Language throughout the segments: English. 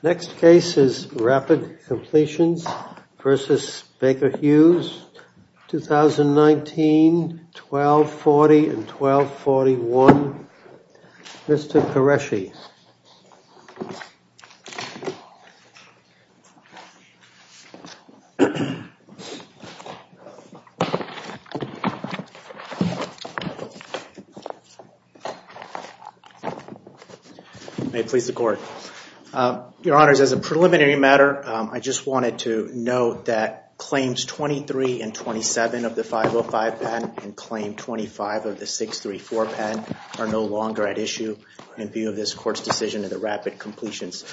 Next case is Rapid Completions v. Baker Hughes, 2019, 1240-1241, Mr. Qureshi. May it please the Court. Your Honors, as a preliminary matter, I just wanted to note that Claims 23 and 27 of the 505 patent and Claim 25 of the 634 patent are no longer at issue in view of this Court's decision in the Rapid Completions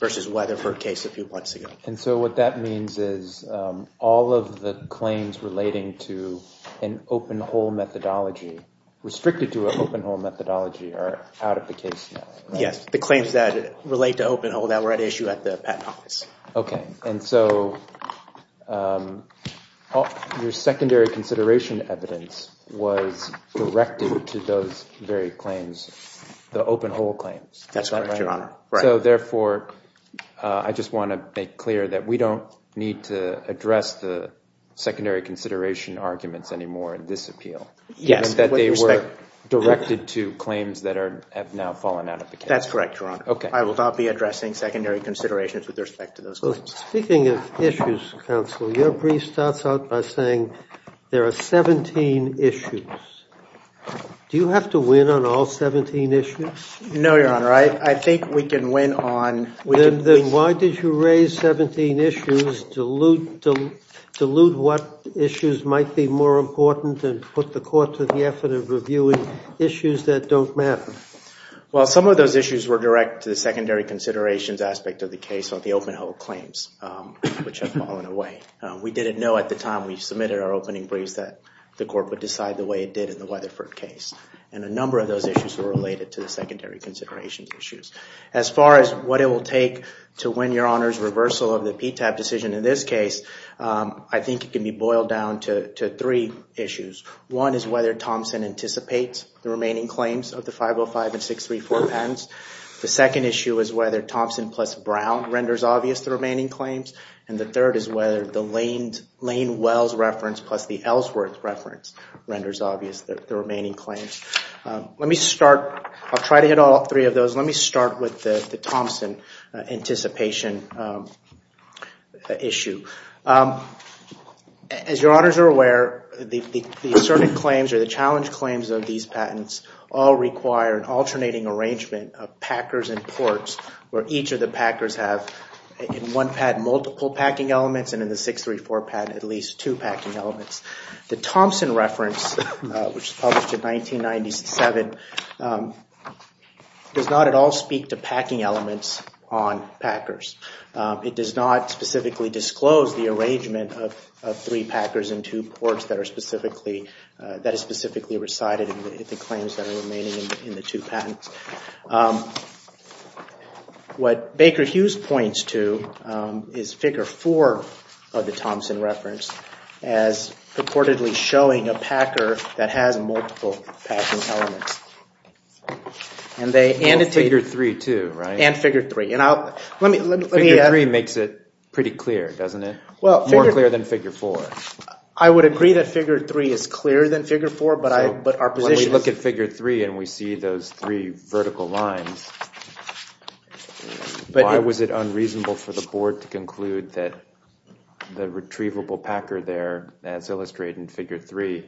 v. Weatherford case a few months ago. And so what that means is all of the claims relating to an open-hole methodology, restricted to an open-hole methodology, are out of the case now. Yes, the claims that relate to open-hole that were at issue at the patent office. Okay. And so your secondary consideration evidence was directed to those very claims, the open-hole claims. That's correct, Your Honor. So, therefore, I just want to make clear that we don't need to address the secondary consideration arguments anymore in this appeal, that they were directed to claims that have now fallen out of the case. That's correct, Your Honor. Okay. I will not be addressing secondary considerations with respect to those claims. Speaking of issues, counsel, your brief starts out by saying there are 17 issues. Do you have to win on all 17 issues? No, Your Honor. I think we can win on... Then why did you raise 17 issues to elude what issues might be more important and put the court to the effort of reviewing issues that don't matter? Well, some of those issues were direct to the secondary considerations aspect of the case on the open-hole claims, which have fallen away. We didn't know at the time we submitted our opening briefs that the court would decide the way it did in the Weatherford case. A number of those issues were related to the secondary considerations issues. As far as what it will take to win Your Honor's reversal of the PTAP decision in this case, I think it can be boiled down to three issues. One is whether Thompson anticipates the remaining claims of the 505 and 634 patents. The second issue is whether Thompson plus Brown renders obvious the remaining claims. The third is whether the Lane-Wells reference plus the Ellsworth reference renders obvious the remaining claims. Let me start... I'll try to hit all three of those. Let me start with the Thompson anticipation issue. As Your Honors are aware, the asserted claims or the challenge claims of these patents all require an alternating arrangement of packers and ports where each of the packers have in one patent multiple packing elements and in the 634 patent at least two packing elements. The Thompson reference, which was published in 1997, does not at all speak to packing elements on packers. It does not specifically disclose the arrangement of three packers and two ports that is specifically recited in the claims that are remaining in the two patents. What Baker-Hughes points to is figure four of the Thompson reference as purportedly showing a packer that has multiple packing elements. And they annotate... Figure three too, right? And figure three. And I'll... Figure three makes it pretty clear, doesn't it? More clear than figure four. I would agree that figure three is clearer than figure four, but our position... Vertical lines. Why was it unreasonable for the board to conclude that the retrievable packer there, as illustrated in figure three,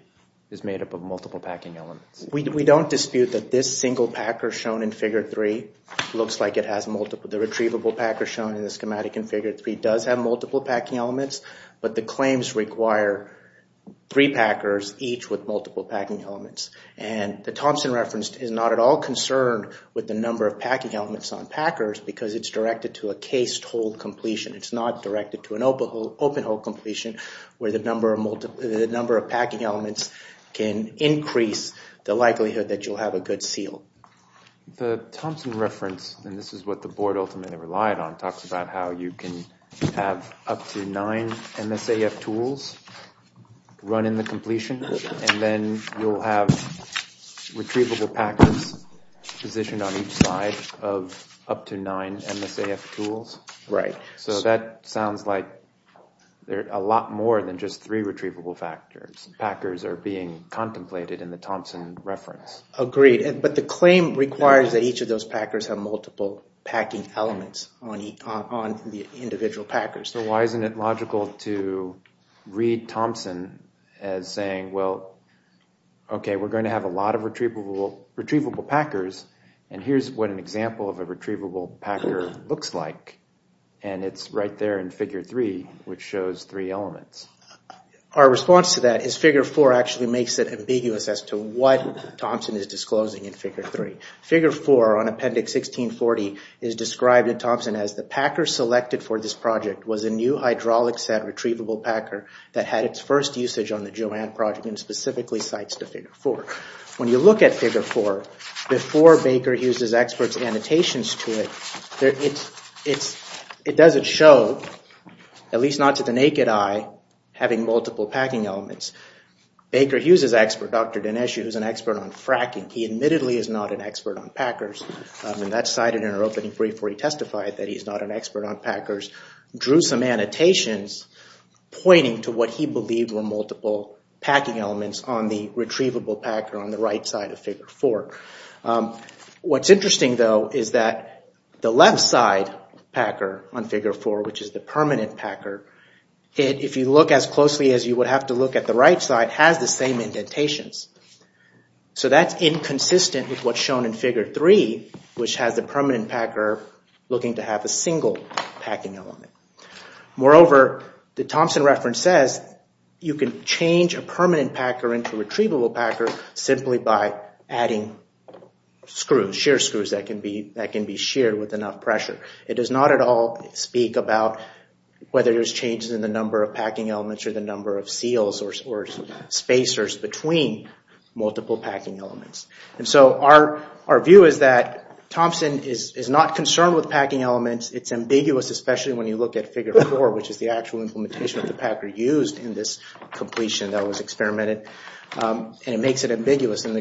is made up of multiple packing elements? We don't dispute that this single packer shown in figure three looks like it has multiple... The retrievable packer shown in the schematic in figure three does have multiple packing elements, but the claims require three packers each with multiple packing elements. And the Thompson reference is not at all concerned with the number of packing elements on packers because it's directed to a cased-hole completion. It's not directed to an open-hole completion where the number of packing elements can increase the likelihood that you'll have a good seal. The Thompson reference, and this is what the board ultimately relied on, talks about how you can have up to nine MSAF tools run in the completion, and then you'll have a number of retrievable packers positioned on each side of up to nine MSAF tools. So that sounds like a lot more than just three retrievable packers are being contemplated in the Thompson reference. Agreed, but the claim requires that each of those packers have multiple packing elements on the individual packers. So why isn't it logical to read Thompson as saying, well, okay, we're going to have a lot of retrievable packers, and here's what an example of a retrievable packer looks like. And it's right there in figure three, which shows three elements. Our response to that is figure four actually makes it ambiguous as to what Thompson is disclosing in figure three. Figure four on Appendix 1640 is described in Thompson as, the packer selected for this project was a new hydraulic set retrievable packer that had its first usage on the Joann project, and specifically cites to figure four. When you look at figure four, before Baker Hughes's expert's annotations to it, it doesn't show, at least not to the naked eye, having multiple packing elements. Baker Hughes's expert, Dr. Dinesh, who is an expert on fracking, he admittedly is not an expert on packers, and that's cited in our opening brief where he testified that he's not an expert on packers, drew some annotations pointing to what he believed were multiple packing elements on the retrievable packer on the right side of figure four. What's interesting, though, is that the left side packer on figure four, which is the permanent packer, if you look as closely as you would have to look at the right side, has the same indentations. So that's inconsistent with what's shown in figure three, which has the permanent packer looking to have a single packing element. Moreover, the Thompson reference says you can change a permanent packer into a retrievable packer simply by adding screws, shear screws, that can be sheared with enough pressure. It does not at all speak about whether there's changes in the number of packing elements or the number of seals or spacers between multiple packing elements. And so our view is that Thompson is not concerned with packing elements. It's ambiguous, especially when you look at figure four, which is the actual implementation of the packer used in this completion that was experimented, and it makes it ambiguous. And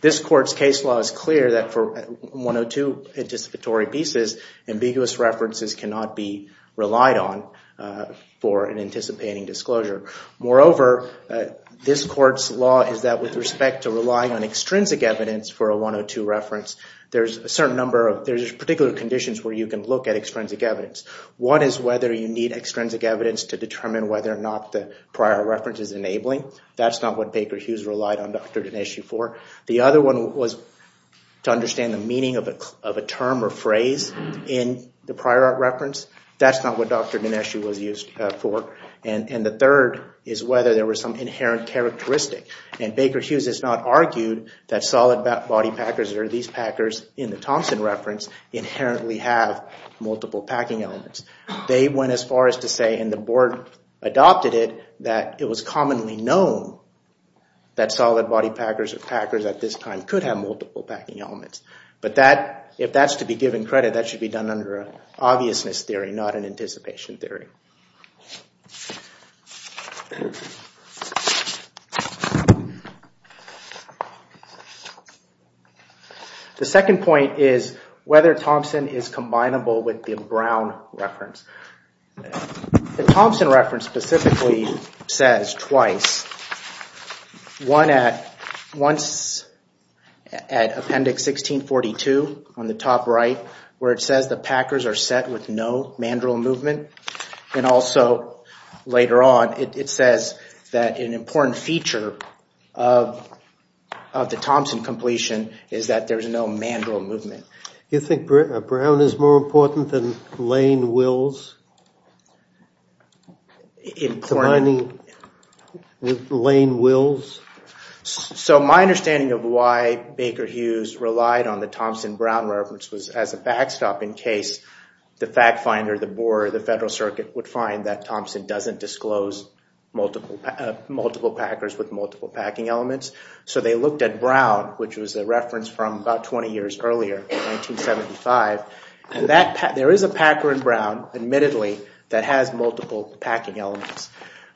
this court's case law is clear that for 102 anticipatory pieces, ambiguous references cannot be relied on for an anticipating disclosure. Moreover, this court's law is that with respect to relying on extrinsic evidence for a 102 reference, there's a certain number of, there's particular conditions where you can look at extrinsic evidence. What is whether you need extrinsic evidence to determine whether or not the prior reference is enabling? That's not what Baker Hughes relied on Dr. Dineshu for. The other one was to understand the meaning of a term or phrase in the prior reference. That's not what Dr. Dineshu was used for. And the third is whether there was some inherent characteristic. And Baker Hughes has not argued that solid body packers or these packers in the Thompson reference inherently have multiple packing elements. They went as far as to say, and the board adopted it, that it was commonly known that solid body packers or packers at this time could have multiple packing elements. But that, if that's to be given credit, that should be done under an obviousness theory, not an anticipation theory. The second point is whether Thompson is combinable with the Brown reference. The Thompson reference specifically says twice, once at appendix 1642 on the top right where it says the packers are set with no mandrel movement, and also later on it says that an important feature of the Thompson completion is that there is no mandrel movement. You think Brown is more important than Lane-Wills? So my understanding of why Baker Hughes relied on the Thompson-Brown reference was as a backstop, in case the fact finder, the board, or the Federal Circuit would find that Thompson doesn't disclose multiple packers with multiple packing elements. So they looked at Brown, which was a reference from about 20 years earlier, 1975. There is a packer in Brown, admittedly, that has multiple packing elements.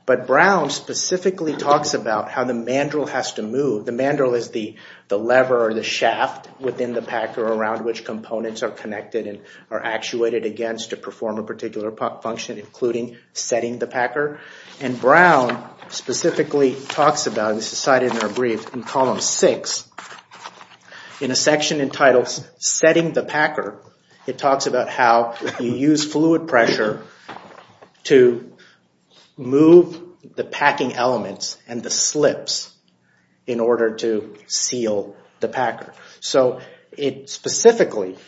But Brown specifically talks about how the mandrel has to move. The mandrel is the lever or the shaft within the packer around which components are connected and are actuated against to perform a particular function, including setting the packer. And Brown specifically talks about, this is cited in our brief in column 6, in a section entitled Setting the Packer, it talks about how you use fluid pressure to move the packing elements and the slips in order to seal the packer. So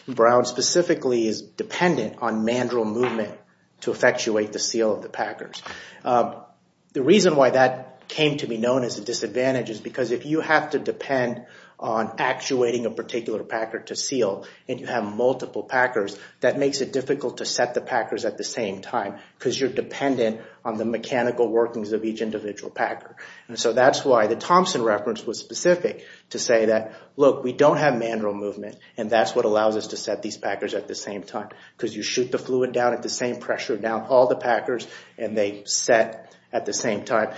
Brown specifically is dependent on mandrel movement to effectuate the seal of the packers. The reason why that came to be known as a disadvantage is because if you have to depend on actuating a particular packer to seal and you have multiple packers, that makes it difficult to set the packers at the same time, because you're dependent on the mechanical workings of each individual packer. So that's why the Thompson reference was specific, to say that, look, we don't have mandrel movement, and that's what allows us to set these packers at the same time, because you shoot the fluid down at the same pressure down all the packers and they set at the same time.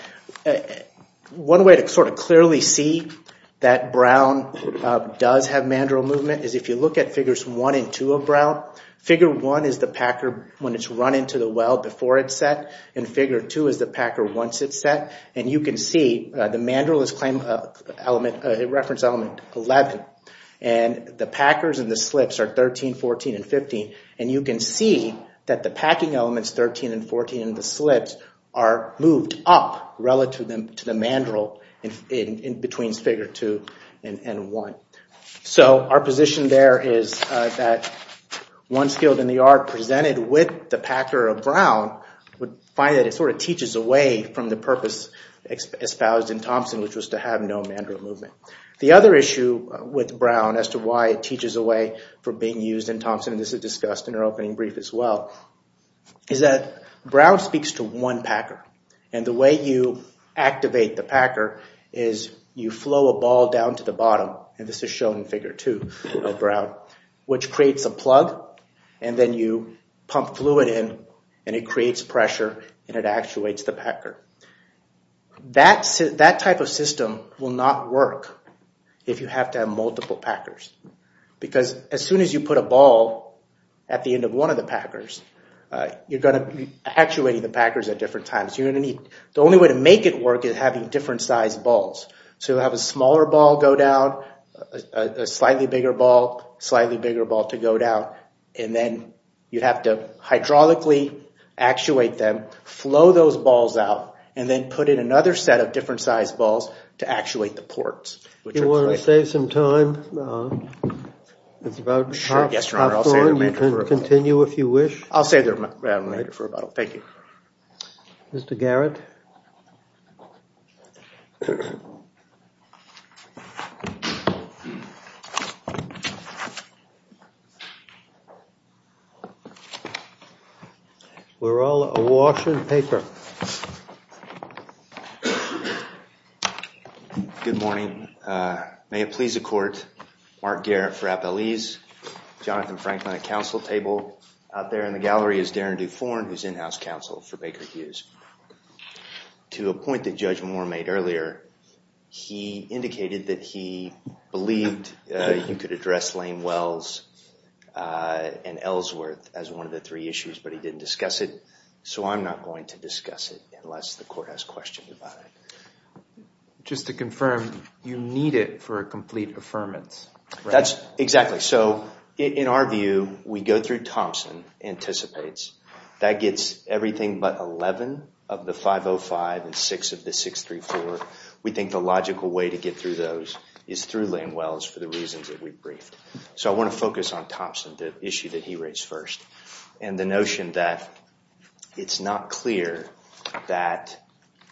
One way to sort of clearly see that Brown does have mandrel movement is if you look at figures 1 and 2 of Brown, figure 1 is the packer when it's run into the well before it's set, and figure 2 is the packer once it's set. And you can see, the mandrel is reference element 11, and the packers and the slips are 13, 14, and 15, and you can see that the packing elements 13 and 14 and the slips are moved up relative to the mandrel in between figure 2 and 1. So our position there is that once skilled in the art presented with the packer of Brown, would find that it sort of teaches away from the purpose espoused in Thompson, which was to have no mandrel movement. The other issue with Brown as to why it teaches away from being used in Thompson, and this is discussed in our opening brief as well, is that Brown speaks to one packer, and the way you activate the packer is you flow a ball down to the bottom, and this is shown in figure 2 of Brown, which creates a plug, and then you pump fluid in, and it creates pressure and it actuates the packer. That type of system will not work if you have to have multiple packers, because as soon as you put a ball at the end of one of the packers, you're going to be actuating the packers at different times, you're going to need, the only way to make it work is having different sized balls. So you'll have a smaller ball go down, a slightly bigger ball, slightly bigger ball to go down, and then you'd have to hydraulically actuate them, flow those balls out, and then put in another set of different sized balls to actuate the ports. Do you want to save some time? It's about half an hour, you can continue if you wish. I'll save the remainder for about, thank you. Mr. Garrett? We're all awash in paper. Good morning, may it please the court, Mark Garrett for Appalese, Jonathan Franklin at the House Counsel for Baker Hughes. To a point that Judge Moore made earlier, he indicated that he believed you could address Lane Wells and Ellsworth as one of the three issues, but he didn't discuss it, so I'm not going to discuss it unless the court has questions about it. Just to confirm, you need it for a complete affirmance, right? That's exactly. In our view, we go through Thompson, anticipates, that gets everything but 11 of the 505 and 6 of the 634. We think the logical way to get through those is through Lane Wells for the reasons that we briefed. I want to focus on Thompson, the issue that he raised first, and the notion that it's not clear that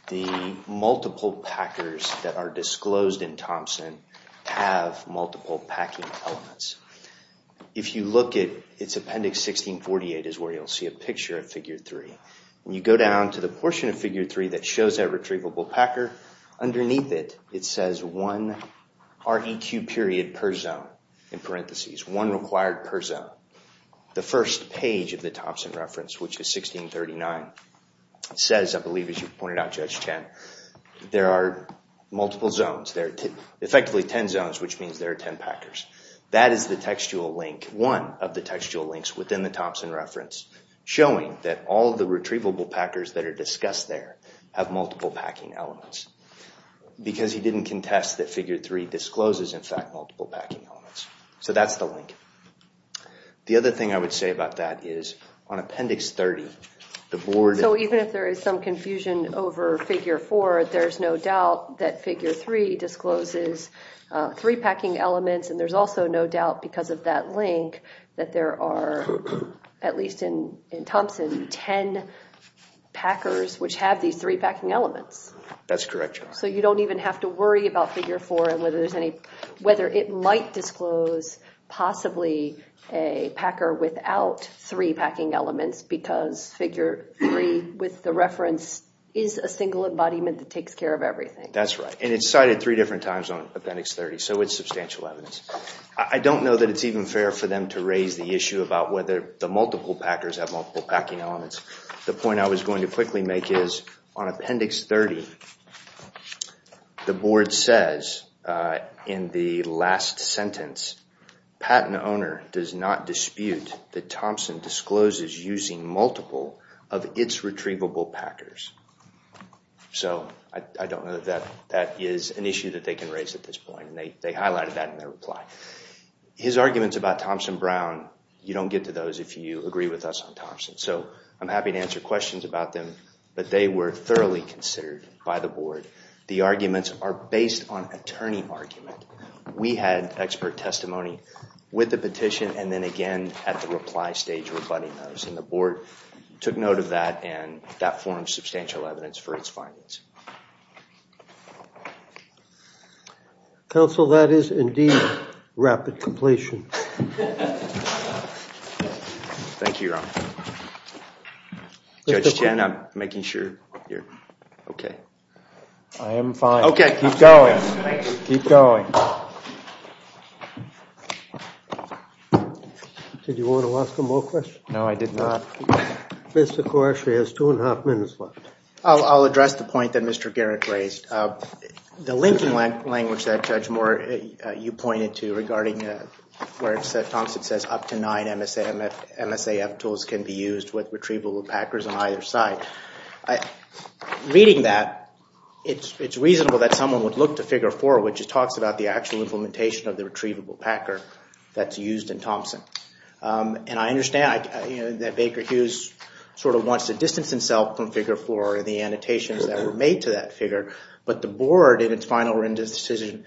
the multiple packers that are disclosed in Thompson have multiple packing elements. If you look at its appendix 1648 is where you'll see a picture of figure 3. You go down to the portion of figure 3 that shows that retrievable packer. Underneath it, it says one REQ period per zone, in parentheses, one required per zone. The first page of the Thompson reference, which is 1639, says, I believe as you pointed out, Judge Chen, there are multiple zones. There are effectively 10 zones, which means there are 10 packers. That is the textual link, one of the textual links within the Thompson reference, showing that all of the retrievable packers that are discussed there have multiple packing elements. Because he didn't contest that figure 3 discloses, in fact, multiple packing elements. So that's the link. The other thing I would say about that is, on appendix 30, the board- So even if there is some confusion over figure 4, there's no doubt that figure 3 discloses three packing elements, and there's also no doubt, because of that link, that there are, at least in Thompson, 10 packers which have these three packing elements. That's correct, Judge. So you don't even have to worry about figure 4 and whether it might disclose, possibly, a packer without three packing elements, because figure 3, with the reference, is a single embodiment that takes care of everything. That's right, and it's cited three different times on appendix 30, so it's substantial evidence. I don't know that it's even fair for them to raise the issue about whether the multiple packers have multiple packing elements. The point I was going to quickly make is, on appendix 30, the board says, in the last sentence, patent owner does not dispute that Thompson discloses using multiple of its retrievable packers. So, I don't know that that is an issue that they can raise at this point, and they highlighted that in their reply. His arguments about Thompson-Brown, you don't get to those if you agree with us on Thompson. So, I'm happy to answer questions about them, but they were thoroughly considered by the board. The arguments are based on attorney argument. We had expert testimony with the petition, and then again, at the reply stage, we're budding those, and the board took note of that, and that formed substantial evidence for its findings. Counsel, that is indeed rapid completion. Thank you, Your Honor. Judge Chen, I'm making sure you're okay. I am fine. Okay. Keep going. Keep going. Did you want to ask him more questions? No, I did not. Mr. Koresh, he has two and a half minutes left. I'll address the point that Mr. Garrett raised. The linking language that, Judge Moore, you pointed to regarding where Thompson says up to nine MSAF tools can be used with retrievable packers on either side, reading that, it's reasonable that someone would look to figure four, which talks about the actual implementation of the retrievable packer that's used in Thompson. And I understand that Baker Hughes sort of wants to distance himself from figure four and the annotations that were made to that figure, but the board, in its final decision,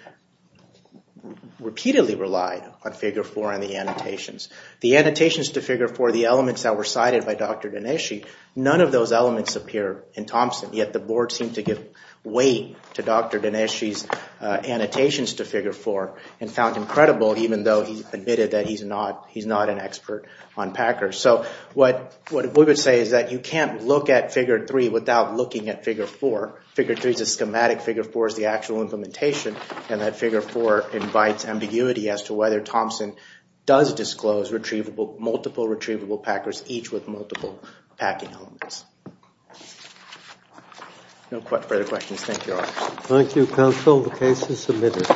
repeatedly relied on figure four and the annotations. The annotations to figure four, the elements that were cited by Dr. Dineshi, none of those elements appear in Thompson, yet the board seemed to give weight to Dr. Dineshi's annotations to figure four and found him credible, even though he admitted that he's not an expert on packers. So what we would say is that you can't look at figure three without looking at figure four. Figure three is a schematic. Figure four is the actual implementation, and that figure four invites ambiguity as to whether Thompson does disclose multiple retrievable packers, each with multiple packing elements. No further questions. Thank you, Your Honor. Thank you, counsel. The case is submitted.